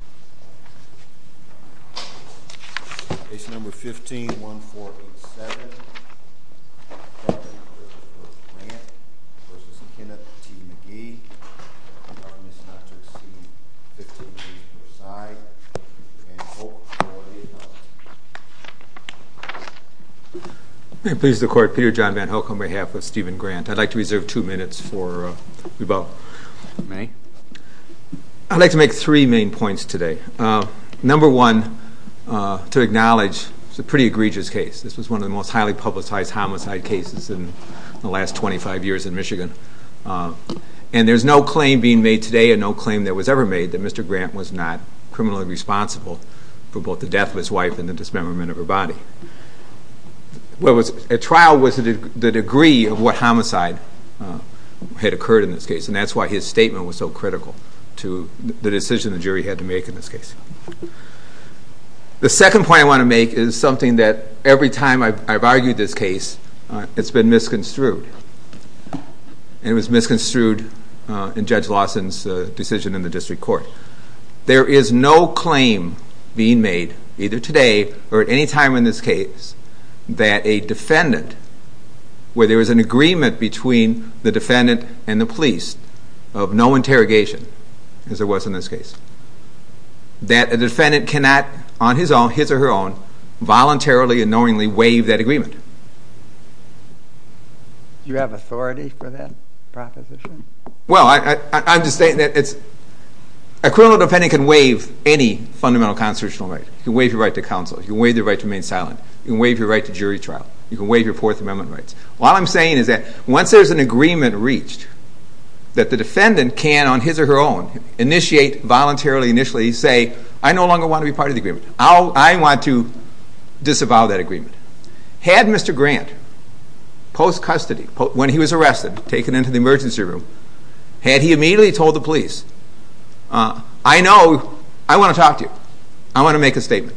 I would like to reserve two minutes for rebuttal. I would like to make three main points today. Number one, to acknowledge, it's a pretty egregious case. This was one of the most highly publicized homicide cases in the last 25 years in Michigan. And there's no claim being made today and no claim that was ever made that Mr. Grant was not criminally responsible for both the death of his wife and the dismemberment of her body. A trial was the degree of what homicide had occurred in this case, and that's why his statement was so critical to the decision the jury had to make in this case. The second point I want to make is something that every time I've argued this case, it's been misconstrued. It was misconstrued in Judge Lawson's decision in the district court. There is no claim being made, either today or at any time in this case, that a defendant, where there is an agreement between the defendant and the police of no interrogation, as there was in this case, that a defendant cannot, on his own, his or her own, voluntarily and knowingly waive that agreement. Do you have authority for that proposition? Well, I'm just stating that it's, a criminal defendant can waive any fundamental constitutional right. You can waive your right to counsel. You can waive your right to remain silent. You can waive your right to jury trial. You can waive your Fourth Amendment rights. All I'm saying is that once there's an agreement reached that the defendant can, on his or her own, initiate voluntarily, initially say, I no longer want to be part of the agreement. I want to disavow that agreement. Had Mr. Grant, post-custody, when he was arrested, taken into the emergency room, had he immediately told the police, I know, I want to talk to you. I want to make a statement.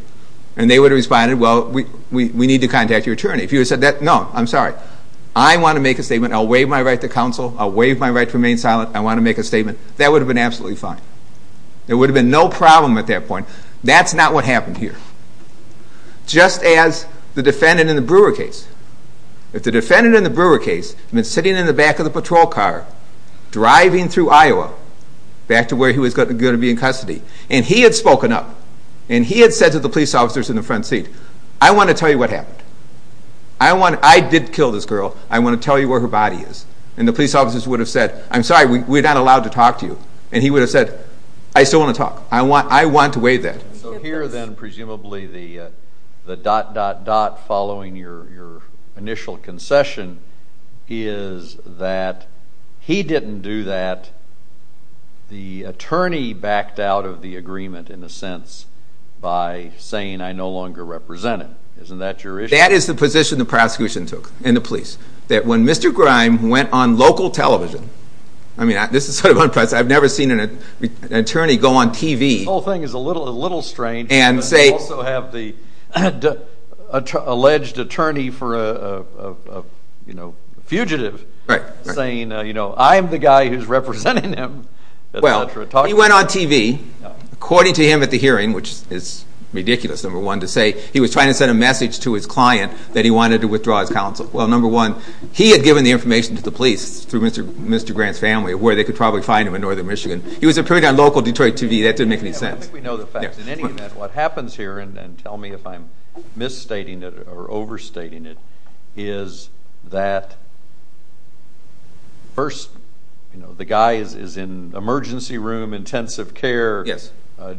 And they would have responded, well, we need to contact your attorney. If he would have said that, no, I'm sorry. I want to make a statement. I'll waive my right to counsel. I'll waive my right to remain silent. I want to make a statement. That would have been absolutely fine. There would have been no problem at that point. That's not what happened here. Just as the defendant in the Brewer case. If the defendant in the Brewer case had been sitting in the back of the patrol car, driving through Iowa, back to where he was going to be in custody, and he had spoken up, and he had said to the police officers in the front seat, I want to tell you what happened. I did kill this girl. I want to tell you where her body is. And the police officers would have said, I'm sorry, we're not allowed to talk to you. And he would have said, I still want to talk. I want to waive that. So here then, presumably, the dot, dot, dot following your initial concession is that he didn't do that. The attorney backed out of the agreement, in a sense, by saying, I no longer represent him. Isn't that your issue? That is the position the prosecution took, and the police. That when Mr. Grime went on local television, I mean, this is sort of unprecedented. I've never seen an attorney go on TV. The whole thing is a little strange, but you also have the alleged attorney for a fugitive saying, you know, I'm the guy who's representing him, et cetera, talk to me. Well, he went on TV. According to him at the hearing, which is ridiculous, number one, to say he was trying to send a message to his client that he wanted to withdraw his counsel. Well, number one, he had given the information to the police through Mr. Grant's family, where they could probably find him in northern Michigan. He was appearing on local Detroit TV. That didn't make any sense. I think we know the facts. In any event, what happens here, and tell me if I'm misstating it or overstating it, is that first, you know, the guy is in emergency room intensive care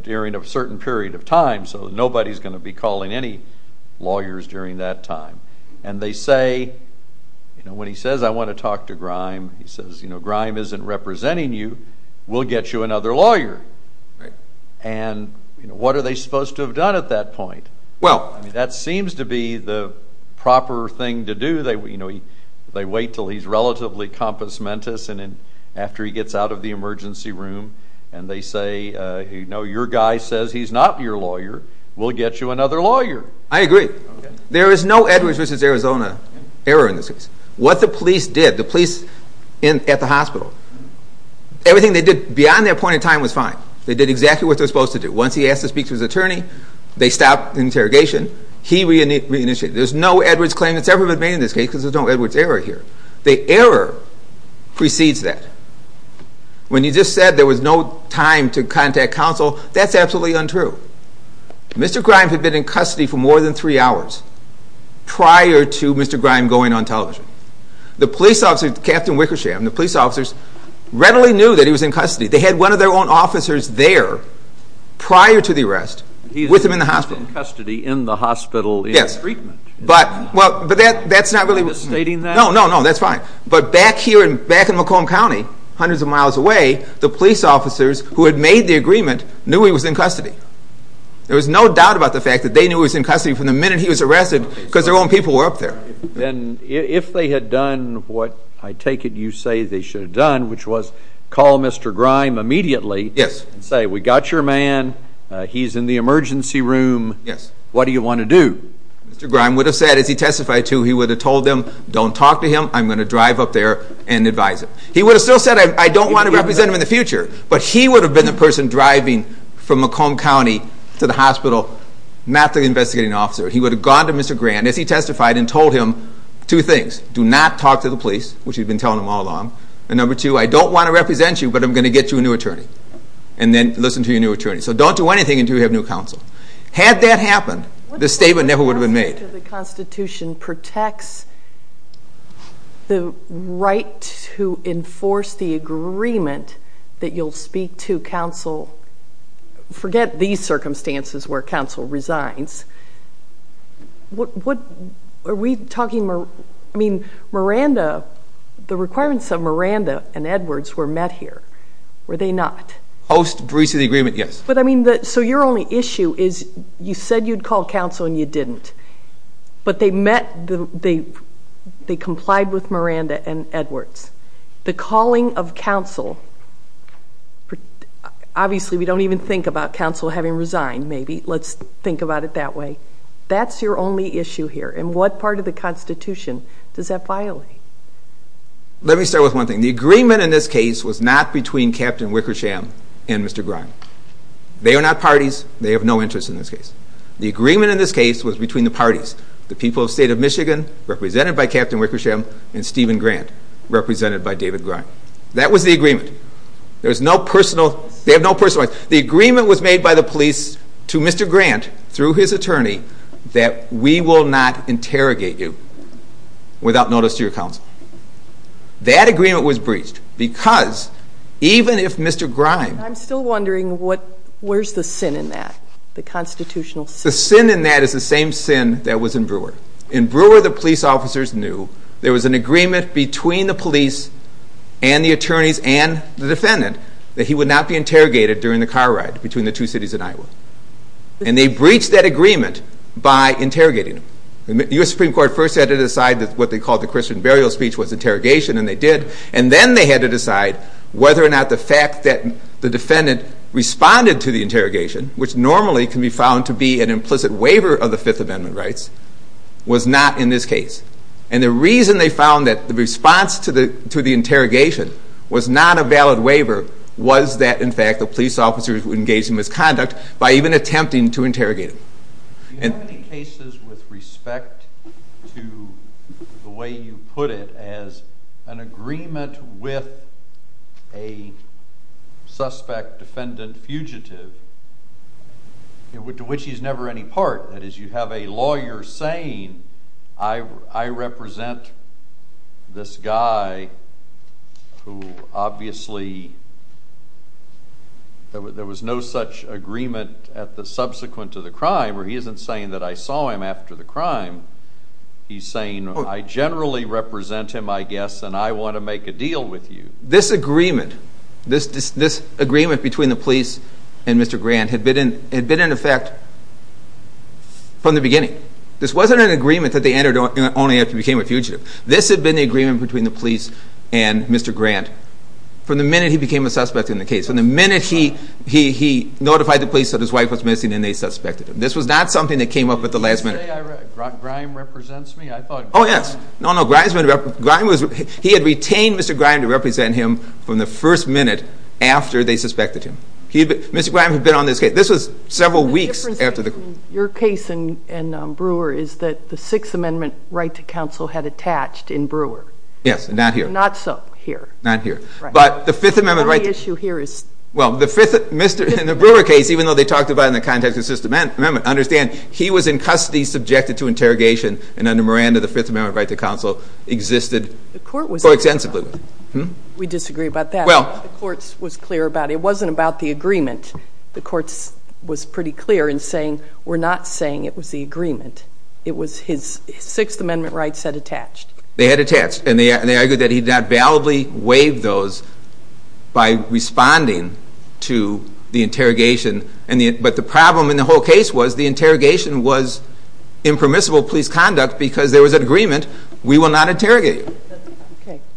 during a certain period of time, so nobody's going to be calling any lawyers during that time. And they say, you know, when he says, I want to talk to Grime, he says, you know, Grime isn't representing you. We'll get you another lawyer. And what are they supposed to have done at that point? Well, I mean, that seems to be the proper thing to do. You know, they wait until he's relatively compensamentous, and then after he gets out of the emergency room, and they say, you know, your guy says he's not your lawyer. We'll get you another lawyer. I agree. There is no Edwards v. Arizona error in this case. What the police did, the police at the hospital, everything they did beyond their point in time was fine. They did exactly what they were supposed to do. Once he asked to speak to his attorney, they stopped the interrogation. He re-initiated. There's no Edwards claim that's ever been made in this case because there's no Edwards error here. The error precedes that. When you just said there was no time to contact counsel, that's absolutely untrue. Mr. Grime had been in custody for more than three hours prior to Mr. Grime going on television. The police officers, Captain Wickersham, the police officers readily knew that he was in custody. They had one of their own officers there prior to the arrest with him in the hospital. He was in custody in the hospital in treatment. Yes. But that's not really... Am I misstating that? No, no, no, that's fine. But back here, back in Macomb County, hundreds of miles away, the police officers who had made the agreement knew he was in custody. There was no doubt about the fact that they knew he was in custody from the minute he was arrested because their own people were up there. Then if they had done what I take it you say they should have done, which was call Mr. Grime immediately and say, we got your man, he's in the emergency room, what do you want to do? Mr. Grime would have said as he testified to he would have told them, don't talk to him, I'm going to drive up there and advise him. He would have still said I don't want to represent him in the future, but he would have been the person driving from Macomb County to the hospital, not the investigating officer. He would have gone to Mr. Grand as he testified and told him two things, do not talk to the police, which he'd been telling them all along, and number two, I don't want to represent you, but I'm going to get you a new attorney, and then listen to your new attorney. So don't do anything until you have new counsel. Had that happened, this statement never would have been made. The Constitution protects the right to enforce the agreement that you'll speak to counsel, forget these circumstances where counsel resigns, what, are we talking, I mean, Miranda, the requirements of Miranda and Edwards were met here, were they not? Post-breach of the agreement, yes. But I mean, so your only issue is you said you'd call counsel and you didn't, but they met, they complied with Miranda and Edwards. The calling of counsel, obviously we don't even think about counsel having resigned, maybe, let's think about it that way. That's your only issue here, and what part of the Constitution does that violate? Let me start with one thing. The agreement in this case was not between Captain Wickersham and Mr. Grand. They are not parties, they have no interest in this case. The agreement in this case was between the parties, the people of the state of Michigan, represented by Captain Wickersham, and Stephen Grand, represented by David Grand. That was the agreement. There's no personal, they have no personal interest. The agreement was made by the police to Mr. Grand, through his attorney, that we will not interrogate you without notice to your counsel. That agreement was breached, because even if Mr. Grand... I'm still wondering what, where's the sin in that, the constitutional sin? The sin in that is the same sin that was in Brewer. In Brewer, the police officers knew there was an agreement between the police and the attorneys and the defendant that he would not be interrogated during the car ride between the two cities in Iowa. And they breached that agreement by interrogating him. The U.S. Supreme Court first had to decide what they called the Christian burial speech was interrogation, and they did, and then they had to decide whether or not the fact that the defendant responded to the interrogation, which normally can be found to be an implicit waiver of the Fifth Amendment rights, was not in this case. And the reason they found that the response to the interrogation was not a valid waiver was that, in fact, the police officers would engage in misconduct by even attempting to interrogate him. Do you have any cases with respect to the way you put it as an agreement with a suspect defendant fugitive, to which he's never any part? That is, you have a lawyer saying, I represent this guy who obviously, there was no such agreement at the subsequent to the crime, where he isn't saying that I saw him after the crime. He's saying, I generally represent him, I guess, and I want to make a deal with you. This agreement, this agreement between the police and Mr. Grant, had been in effect from the beginning. This wasn't an agreement that they entered only after he became a fugitive. This had been the agreement between the police and Mr. Grant from the minute he became a suspect in the case. From the minute he notified the police that his wife was missing and they suspected him. This was not something that came up at the last minute. Did you say, Grime represents me? I thought Grime was... him from the first minute after they suspected him. Mr. Grime had been on this case. This was several weeks after the... Your case in Brewer is that the Sixth Amendment right to counsel had attached in Brewer. Yes, not here. Not so here. Not here. But the Fifth Amendment right to counsel... The only issue here is... Well, in the Brewer case, even though they talked about it in the context of the Sixth Amendment, understand, he was in custody subjected to interrogation and under Miranda, the Fifth Amendment right to counsel existed so extensively. We disagree about that. Well... The courts was clear about it. It wasn't about the agreement. The courts was pretty clear in saying, we're not saying it was the agreement. It was his Sixth Amendment rights had attached. They had attached and they argued that he had not validly waived those by responding to the interrogation. But the problem in the whole case was the interrogation was impermissible police conduct because there was an agreement, we will not interrogate you.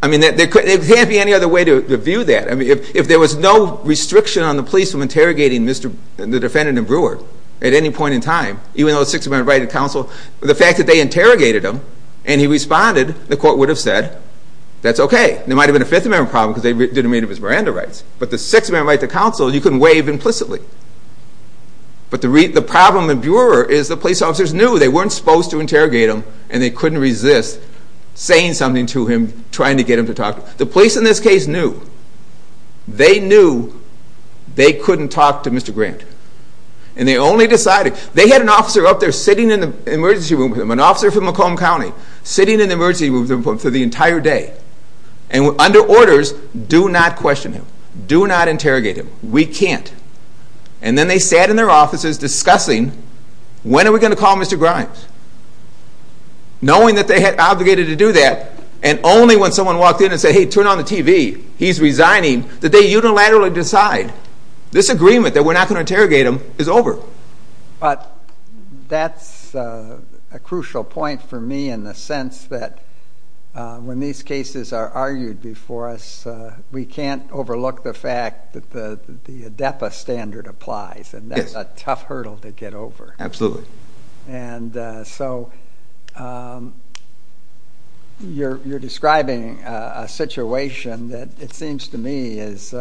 I mean, there can't be any other way to view that. I mean, if there was no restriction on the police from interrogating the defendant in Brewer at any point in time, even though the Sixth Amendment right to counsel, the fact that they interrogated him and he responded, the court would have said, that's okay. There might have been a Fifth Amendment problem because they didn't meet his Miranda rights. But the Sixth Amendment right to counsel, you couldn't waive implicitly. But the problem in Brewer is the police officers knew they couldn't resist saying something to him, trying to get him to talk. The police in this case knew. They knew they couldn't talk to Mr. Grant. And they only decided, they had an officer up there sitting in the emergency room with him, an officer from Macomb County, sitting in the emergency room with him for the entire day. And under orders, do not question him. Do not interrogate him. We can't. And then they sat in their offices discussing, when are we going to call Mr. Grimes? Knowing that they had obligated to do that, and only when someone walked in and said, hey, turn on the TV, he's resigning, that they unilaterally decide, this agreement that we're not going to interrogate him is over. But that's a crucial point for me in the sense that when these cases are argued before us, we can't overlook the fact that the ADEPA standard applies. And that's a tough hurdle to get over. Absolutely. And so you're describing a situation that it seems to me is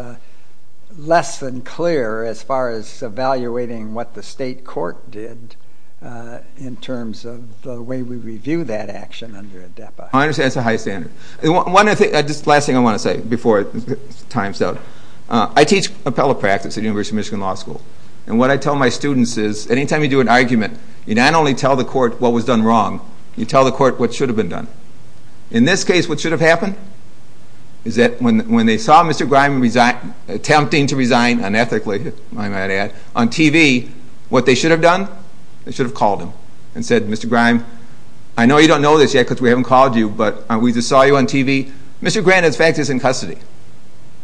less than clear as far as evaluating what the state court did in terms of the way we review that action under ADEPA. I understand it's a high standard. One I teach appellate practice at University of Michigan Law School. And what I tell my students is anytime you do an argument, you not only tell the court what was done wrong, you tell the court what should have been done. In this case, what should have happened is that when they saw Mr. Grimes attempting to resign unethically, I might add, on TV, what they should have done? They should have called him and said, Mr. Grimes, I know you don't know this yet because we haven't called you, but we just saw you on TV. Mr. Grimes, in fact, is in custody.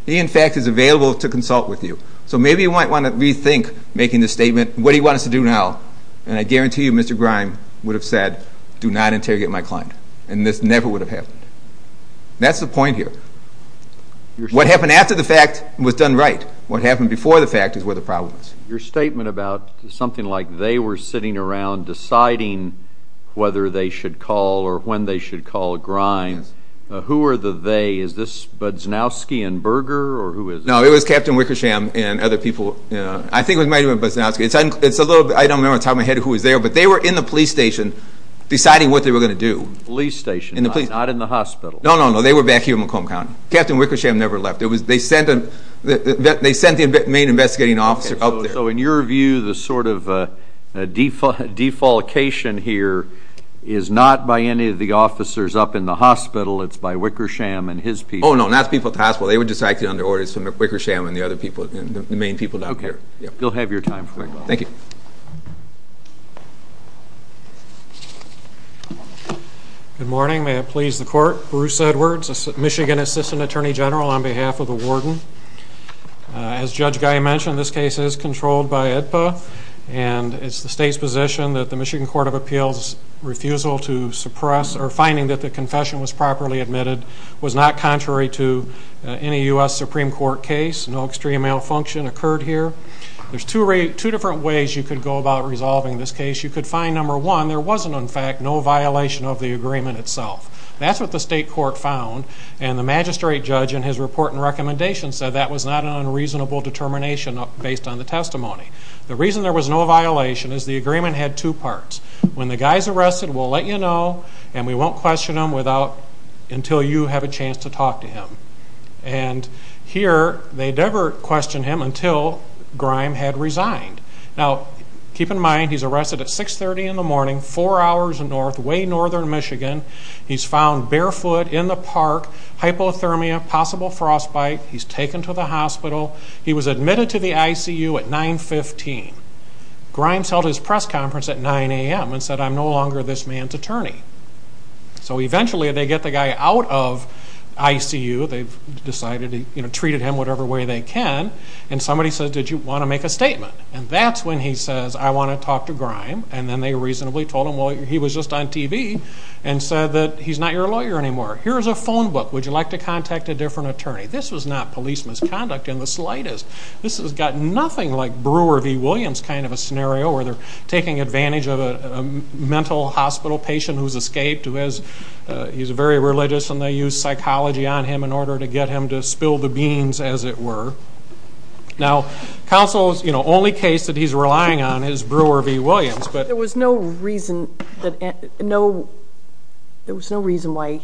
He, in fact, is available to consult with you. So maybe you might want to rethink making this statement. What do you want us to do now? And I guarantee you Mr. Grimes would have said, do not interrogate my client. And this never would have happened. That's the point here. What happened after the fact was done right. What happened before the fact is where the problem is. Your statement about something like they were sitting around deciding whether they should call or when they should call Grimes, who are the they? Is this Budznowski and Berger? No, it was Captain Wickersham and other people. I think it might have been Budznowski. I don't remember off the top of my head who was there, but they were in the police station deciding what they were going to do. Police station, not in the hospital? No, no, no. They were back here in Macomb County. Captain Wickersham never left. They sent the main investigating officer up there. So in your view, the sort of defalcation here is not by any of the officers up in the hospital, it's by Wickersham and his people? Oh no, not the people at the hospital. They were just acting under orders from Wickersham and the other people, the main people down here. Okay, you'll have your time. Thank you. Good morning, may it please the Court. Bruce Edwards, Michigan Assistant Attorney General on behalf of the Warden. As Judge Guy mentioned, this case is controlled by IDPA and it's the state's position that the Michigan Court of Appeals' refusal to confession was properly admitted was not contrary to any U.S. Supreme Court case. No extreme malfunction occurred here. There's two different ways you could go about resolving this case. You could find, number one, there wasn't in fact no violation of the agreement itself. That's what the state court found and the magistrate judge in his report and recommendation said that was not an unreasonable determination based on the testimony. The reason there was no violation is the agreement had two parts. When the guy's arrested, we'll let you know and we won't question him until you have a chance to talk to him. And here, they never questioned him until Grime had resigned. Now, keep in mind, he's arrested at 630 in the morning, four hours north, way northern Michigan. He's found barefoot in the park, hypothermia, possible frostbite. He's taken to the hospital. He was at a press conference at 9 a.m. and said, I'm no longer this man's attorney. So eventually, they get the guy out of ICU. They've decided, you know, treated him whatever way they can. And somebody said, did you want to make a statement? And that's when he says, I want to talk to Grime. And then they reasonably told him, well, he was just on TV and said that he's not your lawyer anymore. Here's a phone book. Would you like to contact a different attorney? This was not police misconduct in the advantage of a mental hospital patient who's escaped, who has, he's very religious and they use psychology on him in order to get him to spill the beans, as it were. Now, counsels, you know, only case that he's relying on is Brewer v. Williams. But there was no reason that, no, there was no reason why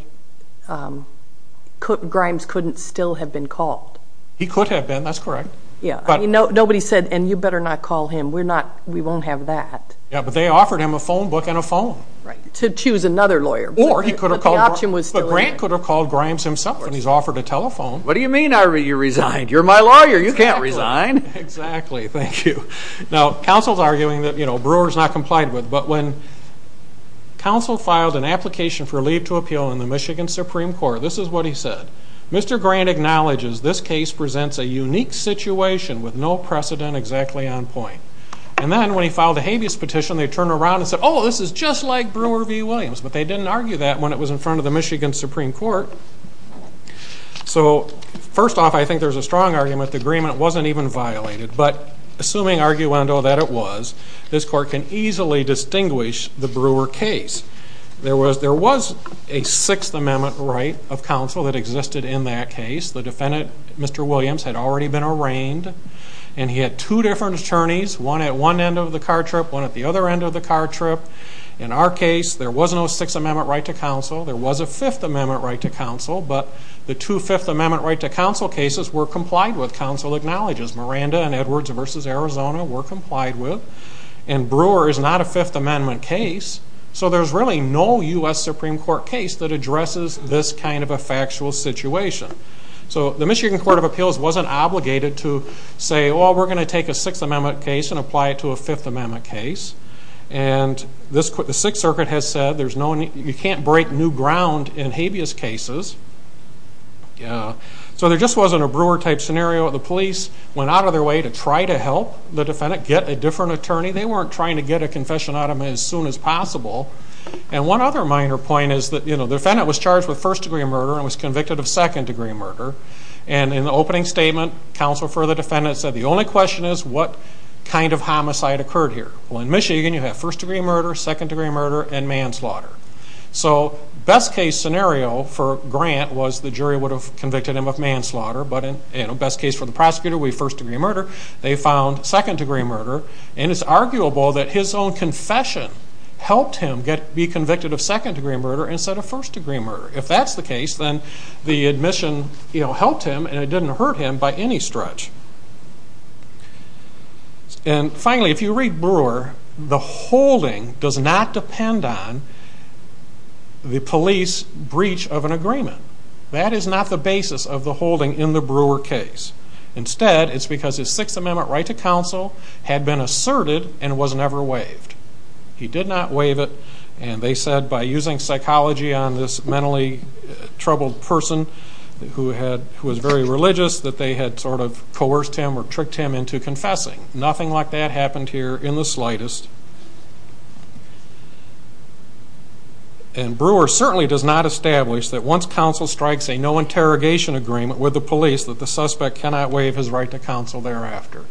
Grimes couldn't still have been called. He could have been, that's correct. Yeah, but they offered him a phone book and a phone. Right. To choose another lawyer. Or he could have called Grimes himself and he's offered a telephone. What do you mean you resigned? You're my lawyer, you can't resign. Exactly. Thank you. Now, counsel's arguing that, you know, Brewer's not complied with. But when counsel filed an application for leave to appeal in the Michigan Supreme Court, this is what he said. Mr. Grant acknowledges this case presents a unique situation with no precedent exactly on point. And then when he filed a habeas petition, they turned around and said, oh, this is just like Brewer v. Williams. But they didn't argue that when it was in front of the Michigan Supreme Court. So, first off, I think there's a strong argument the agreement wasn't even violated. But assuming arguendo that it was, this court can easily distinguish the Brewer case. There was, there was a Sixth Amendment right of counsel that existed in that case. The two different attorneys, one at one end of the car trip, one at the other end of the car trip. In our case, there was no Sixth Amendment right to counsel. There was a Fifth Amendment right to counsel. But the two Fifth Amendment right to counsel cases were complied with, counsel acknowledges. Miranda and Edwards v. Arizona were complied with. And Brewer is not a Fifth Amendment case. So there's really no U.S. Supreme Court case that addresses this kind of a factual situation. So, the Michigan Court of Appeals wasn't obligated to say, oh, we're going to take a Sixth Amendment case and apply it to a Fifth Amendment case. And the Sixth Circuit has said there's no, you can't break new ground in habeas cases. So there just wasn't a Brewer type scenario. The police went out of their way to try to help the defendant get a different attorney. They weren't trying to get a confession out of him as soon as possible. And one other minor point is that, you know, the defendant was charged with first degree murder and was convicted of second degree murder. And in the opening statement, counsel for the defendant said the only question is what kind of homicide occurred here. Well, in Michigan, you have first degree murder, second degree murder, and manslaughter. So best case scenario for Grant was the jury would have convicted him of manslaughter. But in a best case for the prosecutor, we have first degree murder. They found second degree murder. And it's arguable that his own confession helped him be convicted of second degree murder instead of first degree murder. If that's the case, then the admission helped him and it didn't hurt him by any stretch. And finally, if you read Brewer, the holding does not depend on the police breach of an agreement. That is not the basis of the holding in the Brewer case. Instead, it's because his Sixth Amendment right to counsel had been violated by using psychology on this mentally troubled person who was very religious that they had sort of coerced him or tricked him into confessing. Nothing like that happened here in the slightest. And Brewer certainly does not establish that once counsel strikes a no interrogation agreement with the police that the suspect cannot waive his right to counsel thereafter.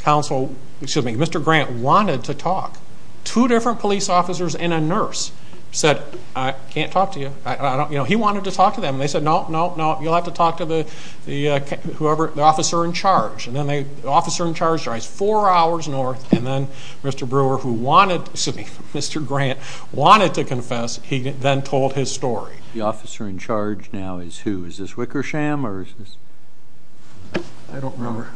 Counsel, excuse me, Mr. Grant wanted to talk. Two different police officers and a nurse said, I can't talk to you. He wanted to talk to them. And they said, no, no, no, you'll have to talk to the officer in charge. And then the officer in charge drives four hours north. And then Mr. Brewer, who wanted, excuse me, Mr. Grant, wanted to confess. He then told his story. The officer in charge now is who? Is this Wickersham or is this? I don't remember.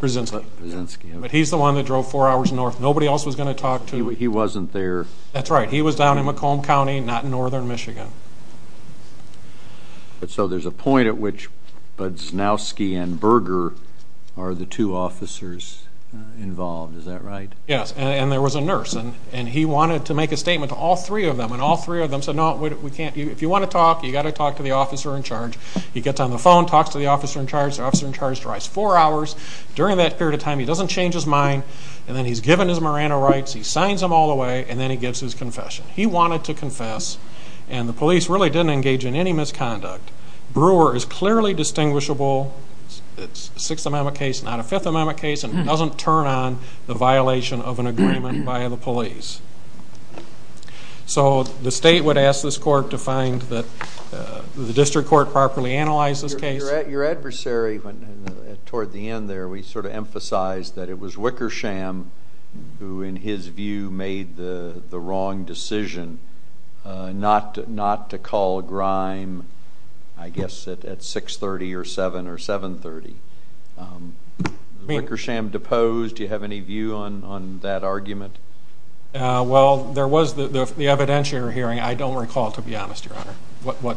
Brzezinski. Brzezinski. Brzezinski. But he's the one that drove four hours north. Nobody else was going to talk to him. He wasn't there. That's right. He was down in Macomb County, not in northern Michigan. So there's a point at which Brzezinski and Brewer are the two officers involved. Is that right? Yes. And there was a nurse. And he wanted to make a statement to all three of them. And all three of them said, no, if you want to talk, you've got to talk to the officer in charge. He gets on the phone, talks to the officer in charge. The officer in charge drives four hours. During that period of time he doesn't change his mind. And then he's given his Morano rights. He signs them all the way. And then he gives his confession. He wanted to confess. And the police really didn't engage in any misconduct. Brewer is clearly distinguishable. It's a Sixth Amendment case, not a Fifth Amendment case. And it doesn't turn on the violation of an agreement by the police. So the state would ask this court to find that the district court properly analyzed this case. Your adversary, toward the end there, we sort of emphasized that it was Wickersham who, in his view, made the wrong decision not to call a grime, I guess, at 6.30 or 7.00 or 7.30. Wickersham deposed. Do you have any view on that argument? Well, there was the evidentiary hearing. I don't recall, to be honest, Your Honor, what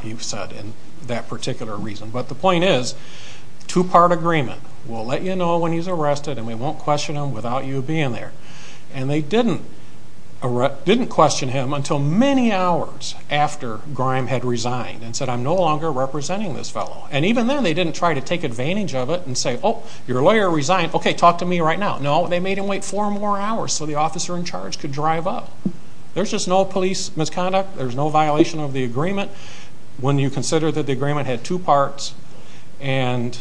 he said in that particular reason. But the point is, two-part agreement. We'll let you know when he's arrested and we won't question him without you being there. And they didn't question him until many hours after Grime had resigned and said, I'm no longer representing this fellow. And even then they didn't try to take advantage of it and say, oh, your lawyer resigned. Okay, talk to me right now. No, they made him wait four more hours so the officer in charge could drive up. There's just no police misconduct. There's no violation of the agreement. When you consider that the agreement had two parts and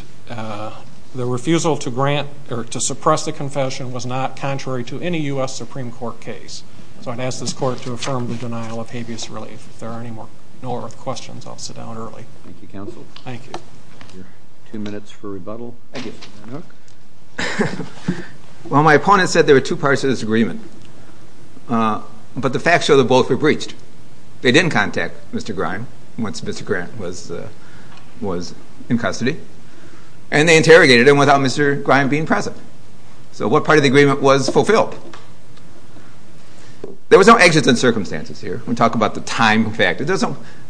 the refusal to grant or to suppress the confession was not contrary to any U.S. Supreme Court case. So I'd ask this Court to affirm the denial of habeas relief. If there are no more questions, I'll sit down early. Thank you, counsel. Thank you. Two minutes for rebuttal. Well, my opponent said there were two parts of this agreement. But the facts show that both were breached. They didn't contact Mr. Grant was in custody. And they interrogated him without Mr. Grime being present. So what part of the agreement was fulfilled? There was no exits in circumstances here. We talk about the time factor.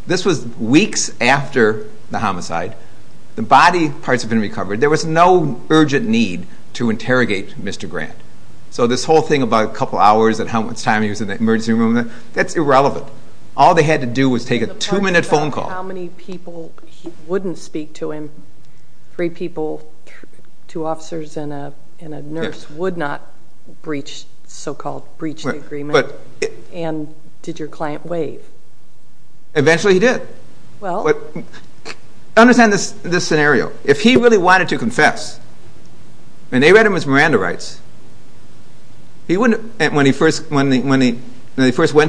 This was weeks after the homicide. The body parts had been recovered. There was no urgent need to interrogate Mr. Grant. So this whole thing about a couple hours and how much time he was in the emergency room, that's irrelevant. All they had to do was take a two-minute phone call. How many people wouldn't speak to him? Three people, two officers and a nurse would not breach, so-called breach the agreement? And did your client waive? Eventually he did. Understand this scenario. If he really wanted to confess, and they read him his Miranda rights, when they first went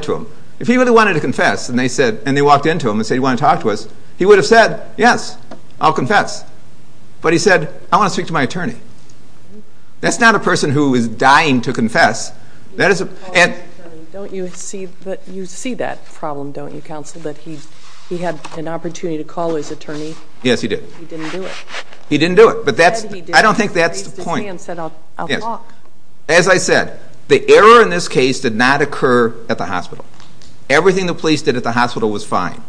to him, if he really wanted to confess, and they walked into him and said, do you want to talk to us, he would have said, yes, I'll confess. But he said, I want to speak to my attorney. That's not a person who is dying to confess. You see that problem, don't you, counsel, that he had an opportunity to call his attorney. Yes, he did. He didn't do it. He didn't do it. I don't think that's the point. He raised his hand and said, I'll talk. As I said, the error in this case did not occur at the hospital. Everything the police did at the hospital was fine.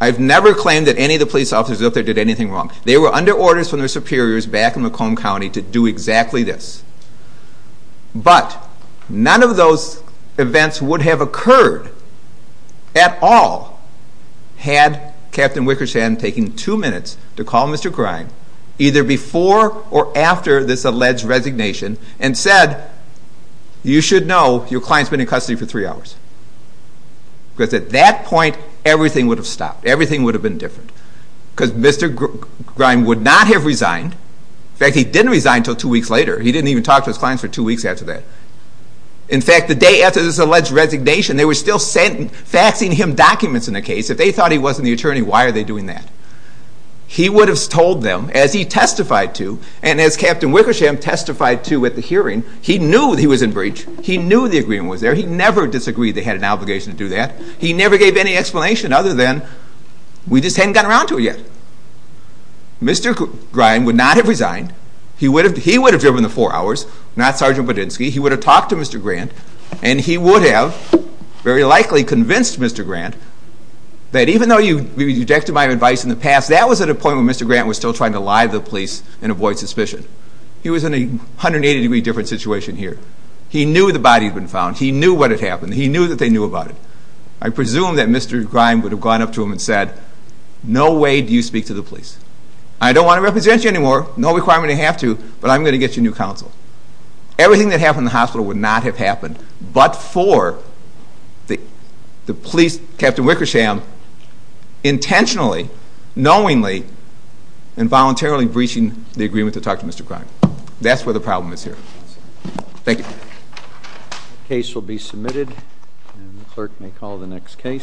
I've never claimed that any of the police officers up there did anything wrong. They were under orders from their superiors back in Macomb County to do exactly this. But none of those events would have occurred at all had Captain Wickersham taken two minutes to call Mr. Grime, either before or after this alleged resignation, and said, you should know your client's been in custody for three hours. Because at that point, everything would have stopped. Everything would have been different. Because Mr. Grime would not have resigned. In fact, he didn't resign until two weeks later. He didn't even talk to his clients for two weeks after that. In fact, the day after this alleged resignation, they were still faxing him documents in the case. If they thought he wasn't the attorney, why are they doing that? He would have told them, as he testified to, and as Captain Wickersham testified to at the hearing, he knew he was in breach. He knew the agreement was there. He never disagreed they had an obligation to do that. He never gave any explanation other than, we just hadn't gotten around to it yet. Mr. Grime would not have resigned. He would have driven the four hours. Not Sergeant Budinsky. He would have talked to Mr. Grant. And he would have very likely convinced Mr. Grant that even though you rejected my advice in the past, that was at a point when Mr. Grant was still trying to lie to the police and avoid suspicion. He was in a 180 degree different situation here. He knew the body had been found. He knew what had happened. He knew that they knew about it. I presume that Mr. Grime would have gone up to him and said, no way do you speak to the police. I don't want to represent you anymore. No requirement to have to. But I'm going to get you new counsel. Everything that happened in the hospital would not have happened but for the police, Captain Wickersham, intentionally, knowingly and voluntarily breaching the agreement to talk to Mr. Grime. That's where the problem is here. Thank you.